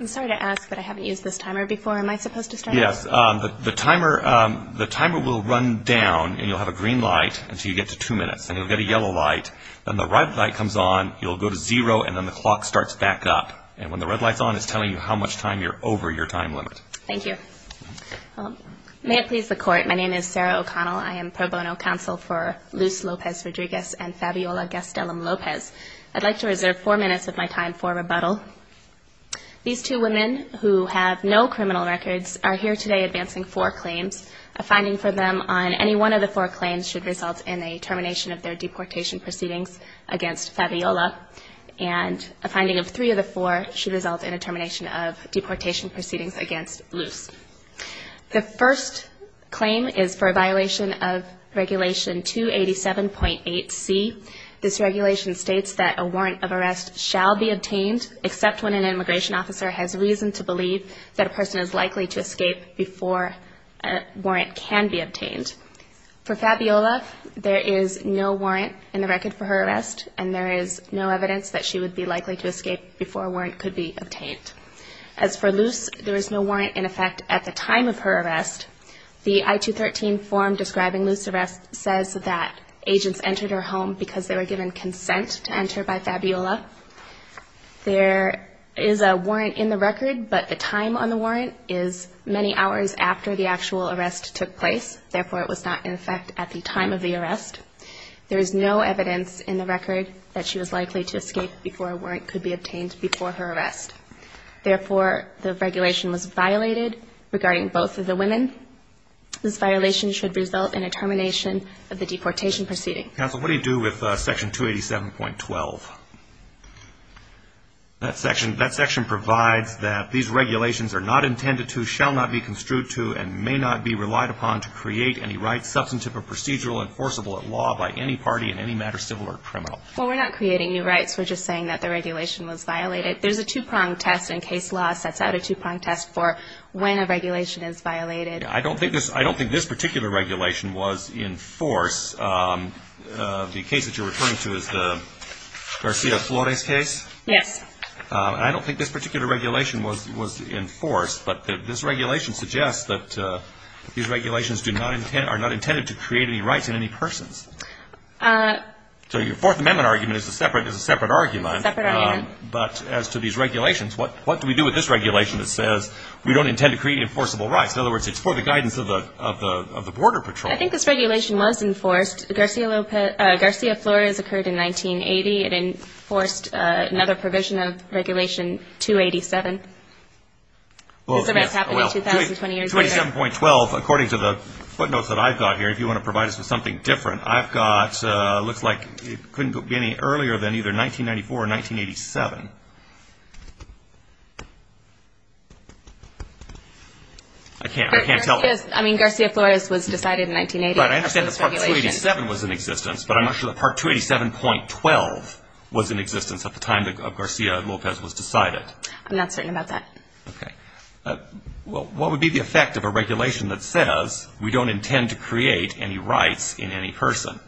I'm sorry to ask, but I haven't used this timer before. Am I supposed to start? Yes. The timer will run down, and you'll have a green light until you get to two minutes, and you'll get a yellow light. Then the red light comes on, you'll go to zero, and then the clock starts back up. And when the red light's on, it's telling you how much time you're over your time limit. Thank you. May it please the Court, my name is Sarah O'Connell. I am pro bono counsel for Luz Lopez-Rodriguez and Fabiola Gastelum-Lopez. I'd like to reserve four minutes of my time for rebuttal. These two women, who have no criminal records, are here today advancing four claims. A finding for them on any one of the four claims should result in a termination of their deportation proceedings against Fabiola, and a finding of three of the four should result in a termination of deportation proceedings against Luz. The first claim is for a violation of Regulation 287.8C. This regulation states that a warrant of arrest shall be obtained, except when an immigration officer has reason to believe that a person is likely to escape before a warrant can be obtained. For Fabiola, there is no warrant in the record for her arrest, and there is no evidence that she would be likely to escape before a warrant could be obtained. As for Luz, there is no warrant in effect at the time of her arrest. The I-213 form describing Luz's arrest says that agents entered her home because they were given consent to enter by Fabiola. There is a warrant in the record, but the time on the warrant is many hours after the actual arrest took place. Therefore, it was not in effect at the time of the arrest. There is no evidence in the record that she was likely to escape before a warrant could be obtained before her arrest. Therefore, the regulation was violated regarding both of the women. This violation should result in a termination of the deportation proceeding. Counsel, what do you do with Section 287.12? That section provides that these regulations are not intended to, shall not be construed to, and may not be relied upon to create any right substantive or procedural enforceable at law by any party in any matter civil or criminal. Well, we're not creating new rights. We're just saying that the regulation was violated. There's a two-prong test, and case law sets out a two-prong test for when a regulation is violated. I don't think this particular regulation was in force. The case that you're referring to is the Garcia Flores case? Yes. I don't think this particular regulation was enforced, but this regulation suggests that these regulations are not intended to create any rights in any persons. So your Fourth Amendment argument is a separate argument. Separate argument. But as to these regulations, what do we do with this regulation that says, we don't intend to create enforceable rights? In other words, it's for the guidance of the Border Patrol. I think this regulation was enforced. Garcia Flores occurred in 1980. It enforced another provision of Regulation 287. Well, yes. It's already happened 2,020 years later. 27.12, according to the footnotes that I've got here, if you want to provide us with something different, I've got, looks like it couldn't be any earlier than either 1994 or 1987. I can't tell. I mean, Garcia Flores was decided in 1980. But I understand that Part 287 was in existence, but I'm not sure that Part 287.12 was in existence at the time that Garcia Lopez was decided. I'm not certain about that. Okay. Well, what would be the effect of a regulation that says, we don't intend to create any rights in any person?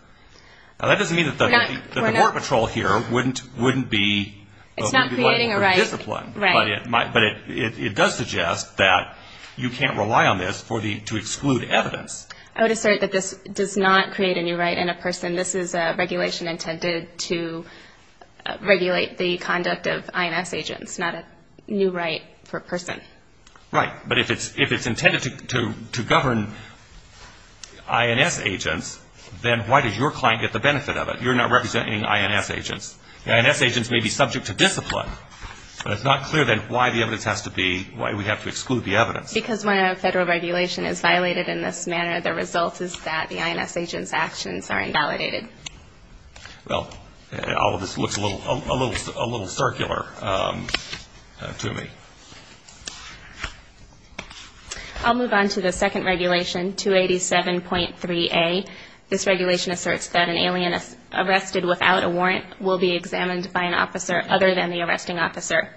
Now, that doesn't mean that the Border Patrol here wouldn't be a discipline. It's not creating a right. Right. But it does suggest that you can't rely on this to exclude evidence. I would assert that this does not create any right in a person. And this is a regulation intended to regulate the conduct of INS agents, not a new right for a person. Right. But if it's intended to govern INS agents, then why does your client get the benefit of it? You're not representing INS agents. The INS agents may be subject to discipline, but it's not clear then why the evidence has to be, why we have to exclude the evidence. Because when a federal regulation is violated in this manner, the result is that the INS agent's actions are invalidated. Well, all of this looks a little circular to me. I'll move on to the second regulation, 287.3a. This regulation asserts that an alien arrested without a warrant will be examined by an officer other than the arresting officer.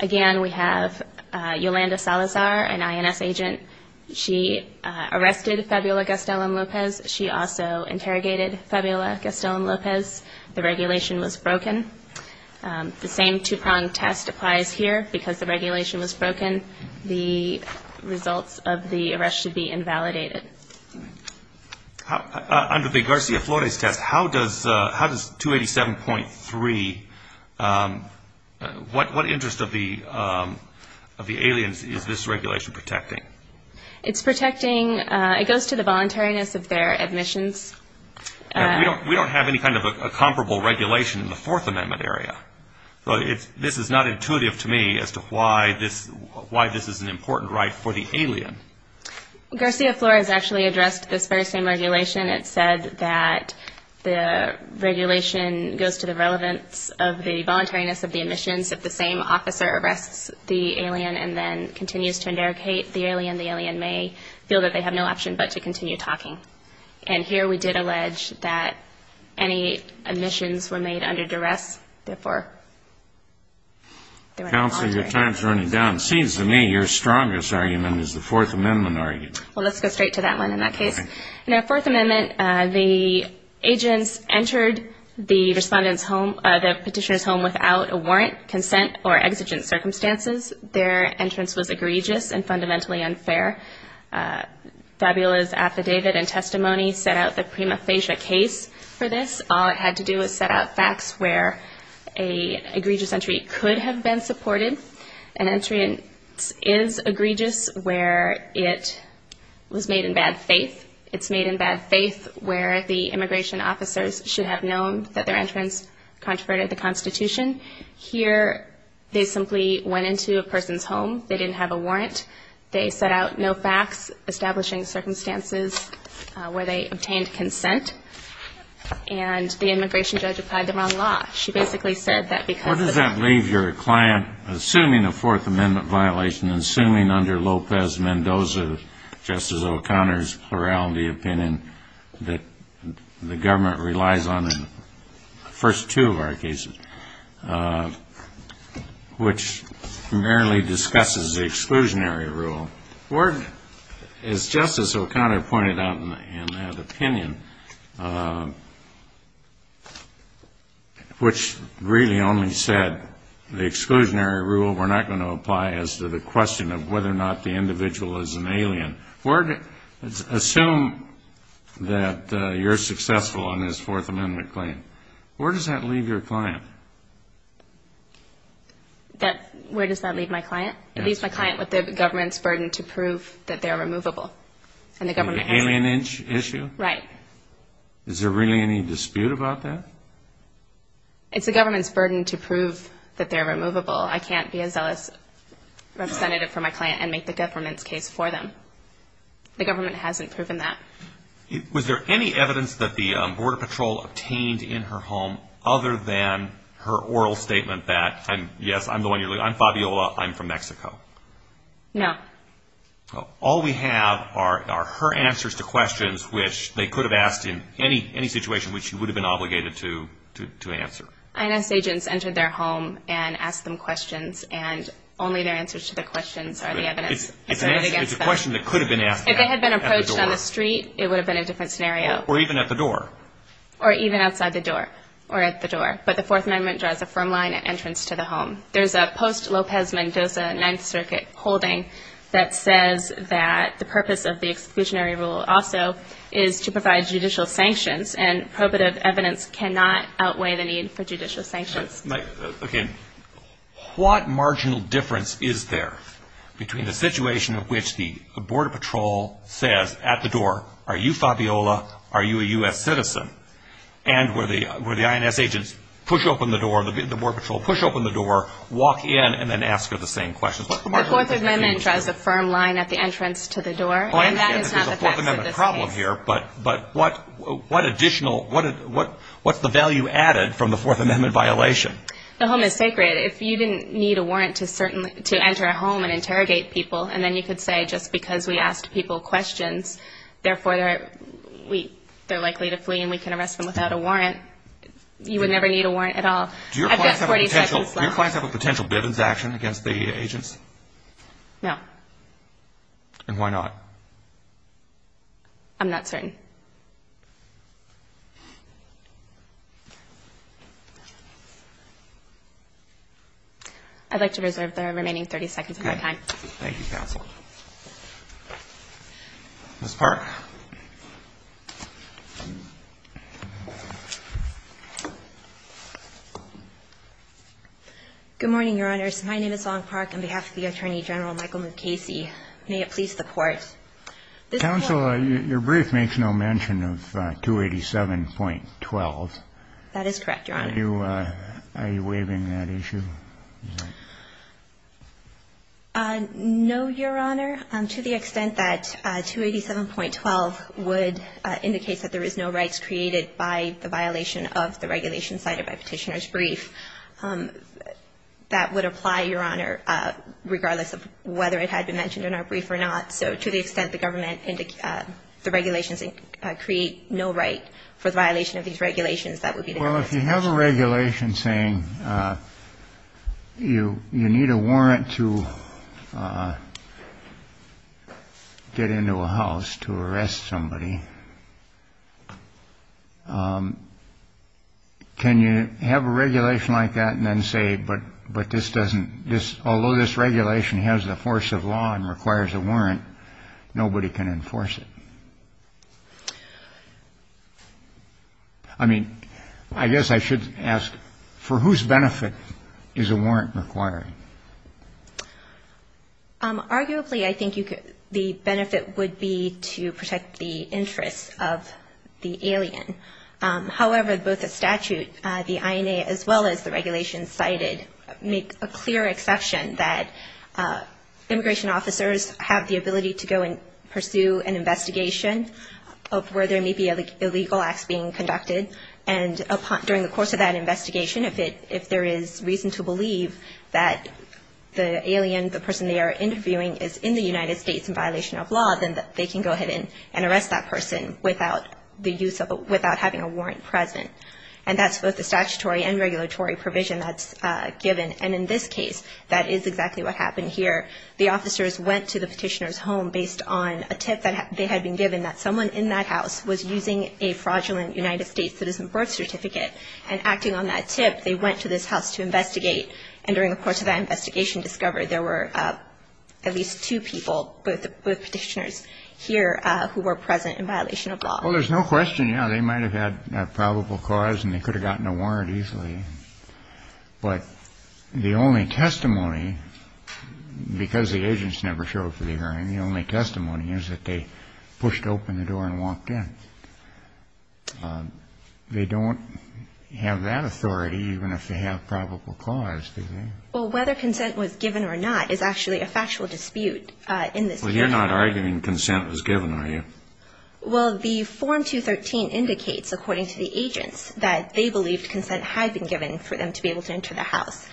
Again, we have Yolanda Salazar, an INS agent. She arrested Fabiola Gastelum Lopez. She also interrogated Fabiola Gastelum Lopez. The regulation was broken. The same two-prong test applies here. Because the regulation was broken, the results of the arrest should be invalidated. Under the Garcia-Flores test, how does 287.3, what interest of the aliens is this regulation protecting? It's protecting, it goes to the voluntariness of their admissions. We don't have any kind of a comparable regulation in the Fourth Amendment area. This is not intuitive to me as to why this is an important right for the alien. Garcia-Flores actually addressed this very same regulation. It said that the regulation goes to the relevance of the voluntariness of the admissions. If the same officer arrests the alien and then continues to interrogate the alien, the alien may feel that they have no option but to continue talking. And here we did allege that any admissions were made under duress, therefore they were not voluntary. Counsel, your time is running down. It seems to me your strongest argument is the Fourth Amendment argument. Well, let's go straight to that one in that case. In the Fourth Amendment, the agents entered the petitioner's home without a warrant, consent, or exigent circumstances. Their entrance was egregious and fundamentally unfair. Fabula's affidavit and testimony set out the prima facie case for this. All it had to do was set out facts where an egregious entry could have been supported. An entrance is egregious where it was made in bad faith. It's made in bad faith where the immigration officers should have known that their entrance contraverted the Constitution. Here they simply went into a person's home. They didn't have a warrant. They set out no facts establishing circumstances where they obtained consent. And the immigration judge applied the wrong law. Where does that leave your client, assuming a Fourth Amendment violation and assuming under Lopez-Mendoza, Justice O'Connor's plurality opinion that the government relies on in the first two of our cases, which primarily discusses the exclusionary rule? As Justice O'Connor pointed out in that opinion, which really only said the exclusionary rule, we're not going to apply as to the question of whether or not the individual is an alien. Assume that you're successful on this Fourth Amendment claim. Where does that leave your client? Where does that leave my client? It leaves my client with the government's burden to prove that they're removable. And the government hasn't. The alien issue? Right. Is there really any dispute about that? It's the government's burden to prove that they're removable. I can't be a zealous representative for my client and make the government's case for them. The government hasn't proven that. Was there any evidence that the Border Patrol obtained in her home other than her oral statement that, yes, I'm the one you're looking for, I'm Fabiola, I'm from Mexico? No. All we have are her answers to questions which they could have asked in any situation which she would have been obligated to answer. INS agents entered their home and asked them questions, and only their answers to the questions are the evidence. If they had been approached on the street, it would have been a different scenario. Or even at the door. Or even outside the door, or at the door. But the Fourth Amendment draws a firm line at entrance to the home. There's a post-Lopez-Mendoza Ninth Circuit holding that says that the purpose of the exclusionary rule also is to provide judicial sanctions, and probative evidence cannot outweigh the need for judicial sanctions. Okay. What marginal difference is there between the situation in which the Border Patrol says at the door, are you Fabiola, are you a U.S. citizen, and where the INS agents push open the door, the Border Patrol push open the door, walk in, and then ask her the same questions? The Fourth Amendment draws a firm line at the entrance to the door, and that is not the facts of this case. But what additional, what's the value added from the Fourth Amendment violation? The home is sacred. If you didn't need a warrant to enter a home and interrogate people, and then you could say just because we asked people questions, therefore they're likely to flee, and we can arrest them without a warrant, you would never need a warrant at all. Do your clients have a potential Bivens action against the agents? No. And why not? I'm not certain. I'd like to reserve the remaining 30 seconds of my time. Okay. Thank you, counsel. Ms. Park. Good morning, Your Honors. My name is Long Park. On behalf of the Attorney General, Michael Mukasey, may it please the Court. Counsel, your brief makes no mention of 287.12. That is correct, Your Honor. Are you waiving that issue? No, Your Honor. To the extent that 287.12 would indicate that there is no rights created by the violation of the regulation cited by Petitioner's brief, that would apply, Your Honor, regardless of whether it had been mentioned in our brief or not. So to the extent the government indicates the regulations create no right for the violation of these regulations, that would be the case. Well, if you have a regulation saying you you need a warrant to get into a house to arrest somebody. Can you have a regulation like that and then say, but but this doesn't just although this regulation has the force of law and requires a warrant, nobody can enforce it. I mean, I guess I should ask, for whose benefit is a warrant required? Arguably, I think the benefit would be to protect the interests of the alien. However, both the statute, the INA, as well as the regulations cited, make a clear exception that immigration officers have the ability to go and pursue an investigation of where there may be illegal acts being conducted. And during the course of that investigation, if there is reason to believe that the alien, the person they are interviewing is in the United States in violation of law, then they can go ahead and arrest that person without having a warrant present. And that's both the statutory and regulatory provision that's given. And in this case, that is exactly what happened here. The officers went to the Petitioner's home based on a tip that they had been given that someone in that house was using a fraudulent United States citizen birth certificate. And acting on that tip, they went to this house to investigate. And during the course of that investigation discovery, there were at least two people, both Petitioners here who were present in violation of law. Well, there's no question, yeah. They might have had a probable cause and they could have gotten a warrant easily. But the only testimony, because the agents never showed up for the hearing, the only testimony is that they pushed open the door and walked in. They don't have that authority even if they have probable cause, do they? Well, whether consent was given or not is actually a factual dispute in this case. Well, you're not arguing consent was given, are you? Well, the Form 213 indicates, according to the agents, that they believed consent had been given for them to be able to enter the house.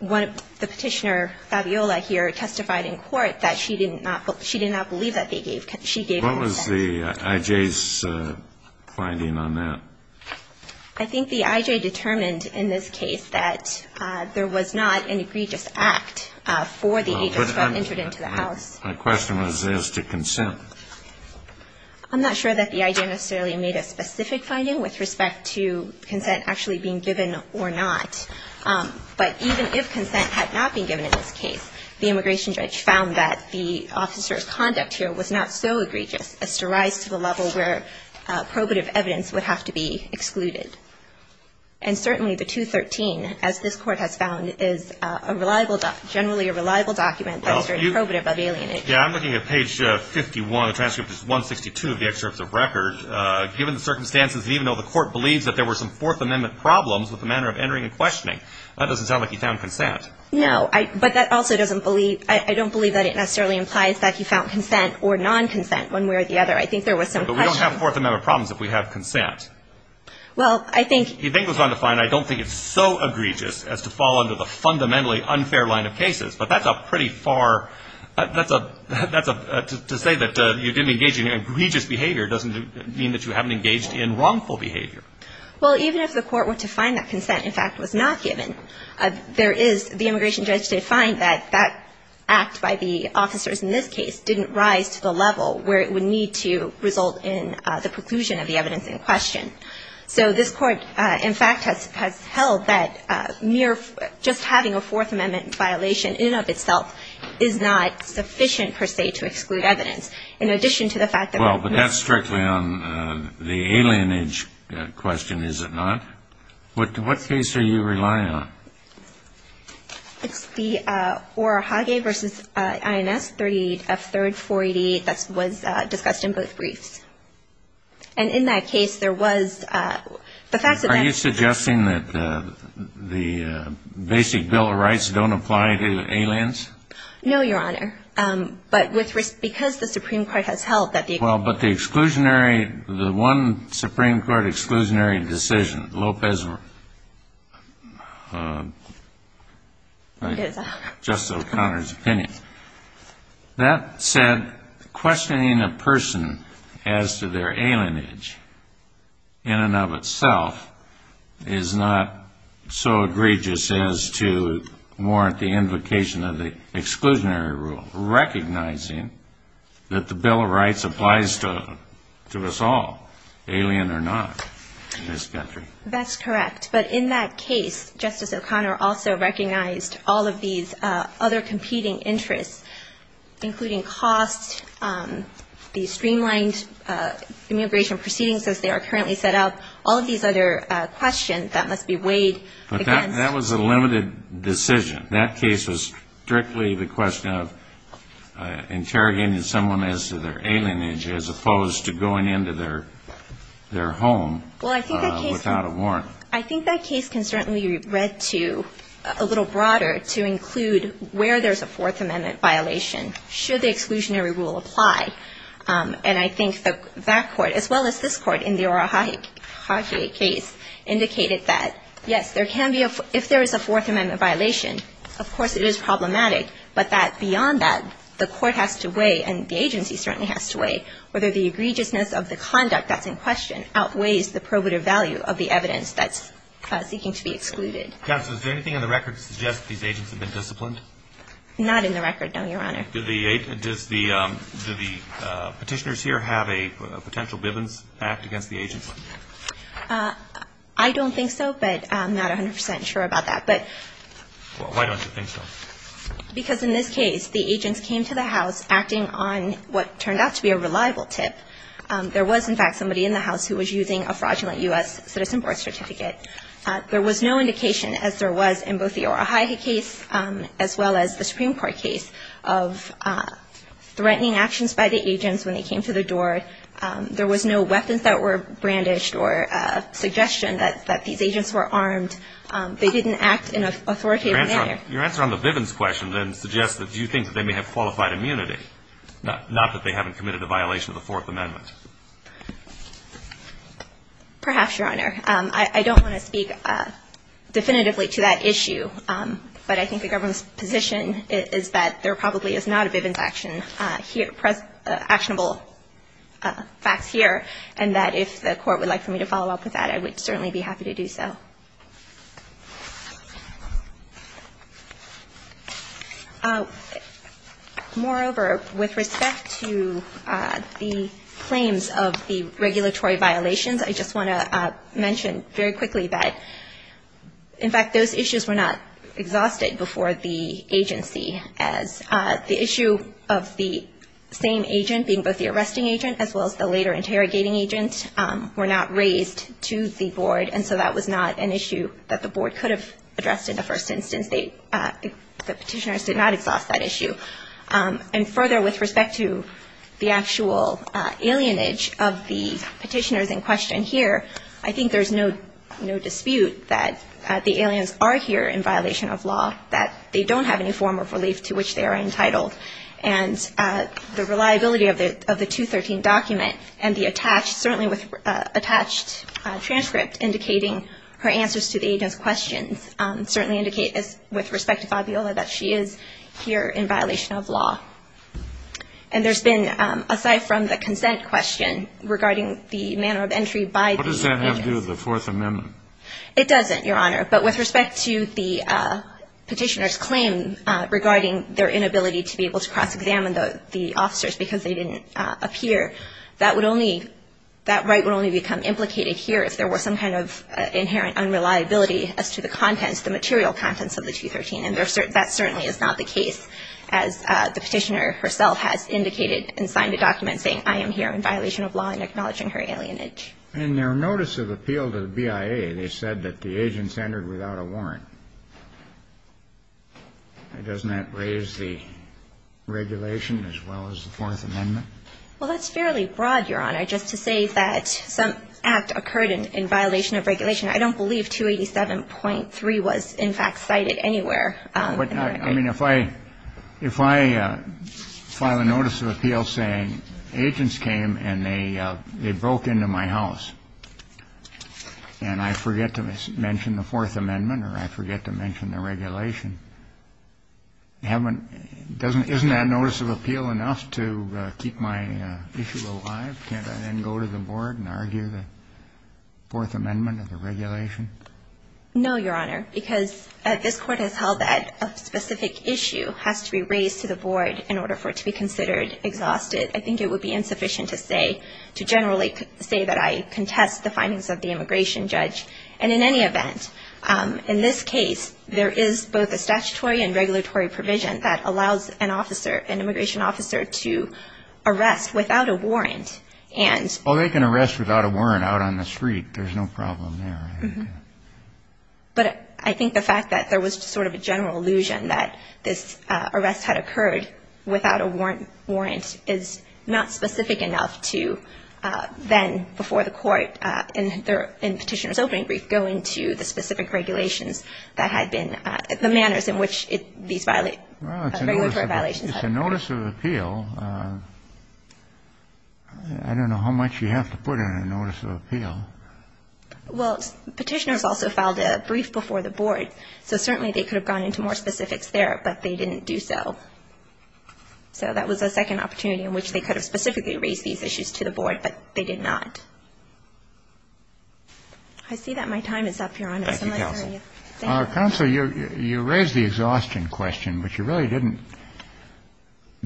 The Petitioner, Fabiola, here, testified in court that she did not believe that they gave consent. What was the I.J.'s finding on that? I think the I.J. determined in this case that there was not an egregious act for the agents who had entered into the house. My question was as to consent. I'm not sure that the I.J. necessarily made a specific finding with respect to consent actually being given or not. But even if consent had not been given in this case, the immigration judge found that the officer of conduct here was not so egregious as to rise to the level where probative evidence would have to be excluded. And certainly the 213, as this Court has found, is a reliable document, generally a reliable document that is very probative of alienation. Yeah, I'm looking at page 51 of the transcript, which is 162 of the excerpts of record. Given the circumstances, and even though the Court believes that there were some Fourth Amendment problems with the manner of entering and questioning, that doesn't sound like he found consent. No, but that also doesn't believe, I don't believe that it necessarily implies that he found consent or non-consent, one way or the other. I think there was some question. But we don't have Fourth Amendment problems if we have consent. Well, I think I don't think it's so egregious as to fall under the fundamentally unfair line of cases. But that's a pretty far, that's a, to say that you didn't engage in egregious behavior doesn't mean that you haven't engaged in wrongful behavior. Well, even if the Court were to find that consent, in fact, was not given, there is, the immigration judge did find that that act by the officers in this case didn't rise to the level where it would need to result in the preclusion of the evidence in question. So this Court, in fact, has held that mere, just having a Fourth Amendment violation in and of itself is not sufficient, per se, to exclude evidence. In addition to the fact that Well, but that's strictly on the alien age question, is it not? What case are you relying on? It's the Orahage v. INS 38, F. 3rd, 488, that was discussed in both briefs. And in that case, there was, the fact that Are you suggesting that the basic Bill of Rights don't apply to aliens? No, Your Honor. But with, because the Supreme Court has held that the Well, but the exclusionary, the one Supreme Court exclusionary decision, Lopez Justice O'Connor's opinion, that said, questioning a person as to their alien age in and of itself is not so egregious as to warrant the invocation of the exclusionary rule, recognizing that the Bill of Rights applies to us all, alien or not, in this country. That's correct. But in that case, Justice O'Connor also recognized all of these other competing interests, including cost, the streamlined immigration proceedings as they are currently set up, all of these other questions that must be weighed against But that was a limited decision. That case was strictly the question of interrogating someone as to their alien age as opposed to going into their home without a warrant. I think that case can certainly be read to, a little broader, to include where there's a Fourth Amendment violation, should the exclusionary rule apply. And I think that court, as well as this court in the Orohahe case, indicated that, yes, there can be a, if there is a Fourth Amendment violation, of course it is problematic, but that beyond that, the court has to weigh, and the agency certainly has to weigh, whether the egregiousness of the conduct that's in question outweighs the probative value of the evidence that's seeking to be excluded. Counsel, is there anything in the record to suggest that these agents have been disciplined? Not in the record, no, Your Honor. Do the petitioners here have a potential Bivens Act against the agents? I don't think so, but I'm not 100 percent sure about that. But why don't you think so? Because in this case, the agents came to the house acting on what turned out to be a reliable tip. There was, in fact, somebody in the house who was using a fraudulent U.S. Citizen Board certificate. There was no indication, as there was in both the Orohahe case as well as the Supreme Court case, of threatening actions by the agents when they came to the door. There was no weapons that were brandished or suggestion that these agents were armed. They didn't act in an authoritative manner. Your answer on the Bivens question then suggests that you think that they may have qualified immunity, not that they haven't committed a violation of the Fourth Amendment. Perhaps, Your Honor. I don't want to speak definitively to that issue. But I think the government's position is that there probably is not a Bivens action here, actionable facts here, and that if the Court would like for me to follow up with that, I would certainly be happy to do so. Moreover, with respect to the claims of the regulatory violations, I just want to mention very quickly that, in fact, those issues were not exhausted before the agency, as the issue of the same agent being both the arresting agent as well as the later interrogating agent were not raised to the Board. And so that was not an issue that the Board could have addressed in the first instance. The petitioners did not exhaust that issue. And further, with respect to the actual alienage of the petitioners in question here, I think there's no dispute that the aliens are here in violation of law, that they don't have any form of relief to which they are entitled. And the reliability of the 213 document and the attached, certainly with attached transcript indicating her answers to the agent's questions certainly indicate, with respect to Fabiola, that she is here in violation of law. And there's been, aside from the consent question regarding the manner of entry by the aliens. What does that have to do with the Fourth Amendment? It doesn't, Your Honor. But with respect to the petitioner's claim regarding their inability to be able to cross-examine the officers because they didn't appear, that would only, that right would only become implicated here if there were some kind of inherent unreliability as to the contents, the material contents of the 213. And that certainly is not the case, as the petitioner herself has indicated and signed a document saying, I am here in violation of law and acknowledging her alienage. In their notice of appeal to the BIA, they said that the agents entered without a warrant. Doesn't that raise the regulation as well as the Fourth Amendment? Well, that's fairly broad, Your Honor. Just to say that some act occurred in violation of regulation, I don't believe 287.3 was in fact cited anywhere. I mean, if I file a notice of appeal saying agents came and they broke into my house and I forget to mention the Fourth Amendment or I forget to mention the regulation, isn't that notice of appeal enough to keep my issue alive? Can't I then go to the board and argue the Fourth Amendment or the regulation? No, Your Honor, because this Court has held that a specific issue has to be raised to the board in order for it to be considered exhausted. I think it would be insufficient to say, to generally say that I contest the findings of the immigration judge. And in any event, in this case, there is both a statutory and regulatory provision that allows an officer, an immigration officer, to arrest without a warrant. Well, they can arrest without a warrant out on the street. There's no problem there. But I think the fact that there was sort of a general illusion that this arrest had occurred without a warrant is not specific enough to then, before the Court in Petitioner's opening brief, go into the specific regulations that had been the manners in which these regulatory violations had been. Well, it's a notice of appeal. I don't know how much you have to put in a notice of appeal. Well, Petitioner's also filed a brief before the board, so certainly they could have gone into more specifics there, but they didn't do so. So that was a second opportunity in which they could have specifically raised these issues to the board, but they did not. I see that my time is up, Your Honor. Thank you, Counsel. Counsel, you raised the exhaustion question, but you really didn't,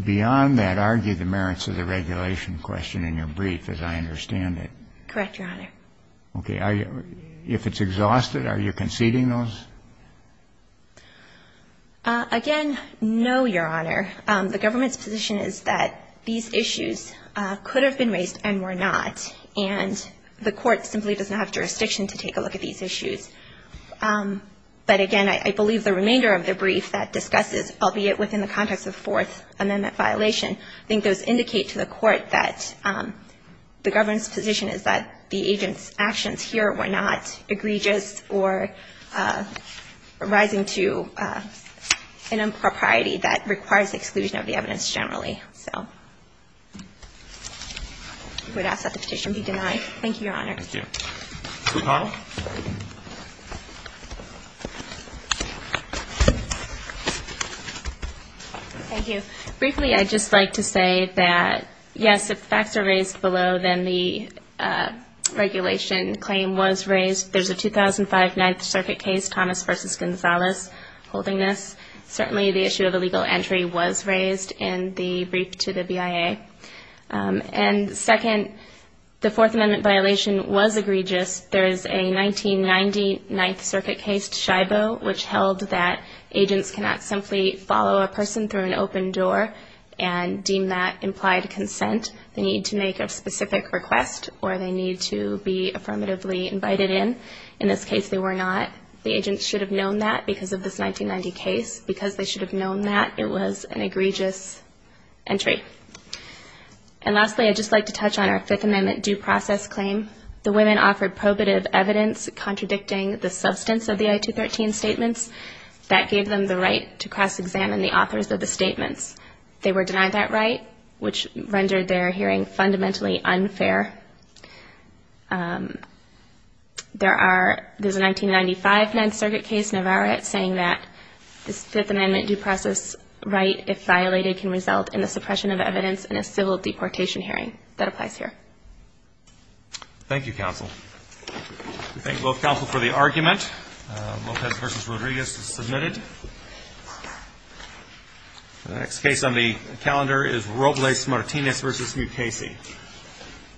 beyond that, argue the merits of the regulation question in your brief, as I understand it. Correct, Your Honor. Okay. If it's exhausted, are you conceding those? Again, no, Your Honor. The government's position is that these issues could have been raised and were not, and the Court simply doesn't have jurisdiction to take a look at these issues. But, again, I believe the remainder of the brief that discusses, albeit within the context of Fourth Amendment violation, I think those indicate to the Court that the government's position is that the agent's actions here were not egregious or rising to an impropriety that requires exclusion of the evidence generally. So I would ask that the petition be denied. Thank you, Your Honor. Thank you. Ms. O'Connell. Thank you. Briefly, I'd just like to say that, yes, if facts are raised below, then the regulation claim was raised. There's a 2005 Ninth Circuit case, Thomas v. Gonzalez, holding this. Certainly the issue of illegal entry was raised in the brief to the BIA. And, second, the Fourth Amendment violation was egregious. There is a 1990 Ninth Circuit case, Scibo, which held that agents cannot simply follow a person through an open door and deem that implied consent. They need to make a specific request or they need to be affirmatively invited in. In this case, they were not. The agents should have known that because of this 1990 case. Because they should have known that, it was an egregious entry. And, lastly, I'd just like to touch on our Fifth Amendment due process claim. The women offered probative evidence contradicting the substance of the I-213 statements. That gave them the right to cross-examine the authors of the statements. They were denied that right, which rendered their hearing fundamentally unfair. There's a 1995 Ninth Circuit case, Navarrete, saying that this Fifth Amendment due process right, if violated, can result in the suppression of evidence in a civil deportation hearing. That applies here. Thank you, counsel. We thank both counsel for the argument. Lopez v. Rodriguez is submitted. The next case on the calendar is Robles-Martinez v. Mukasey.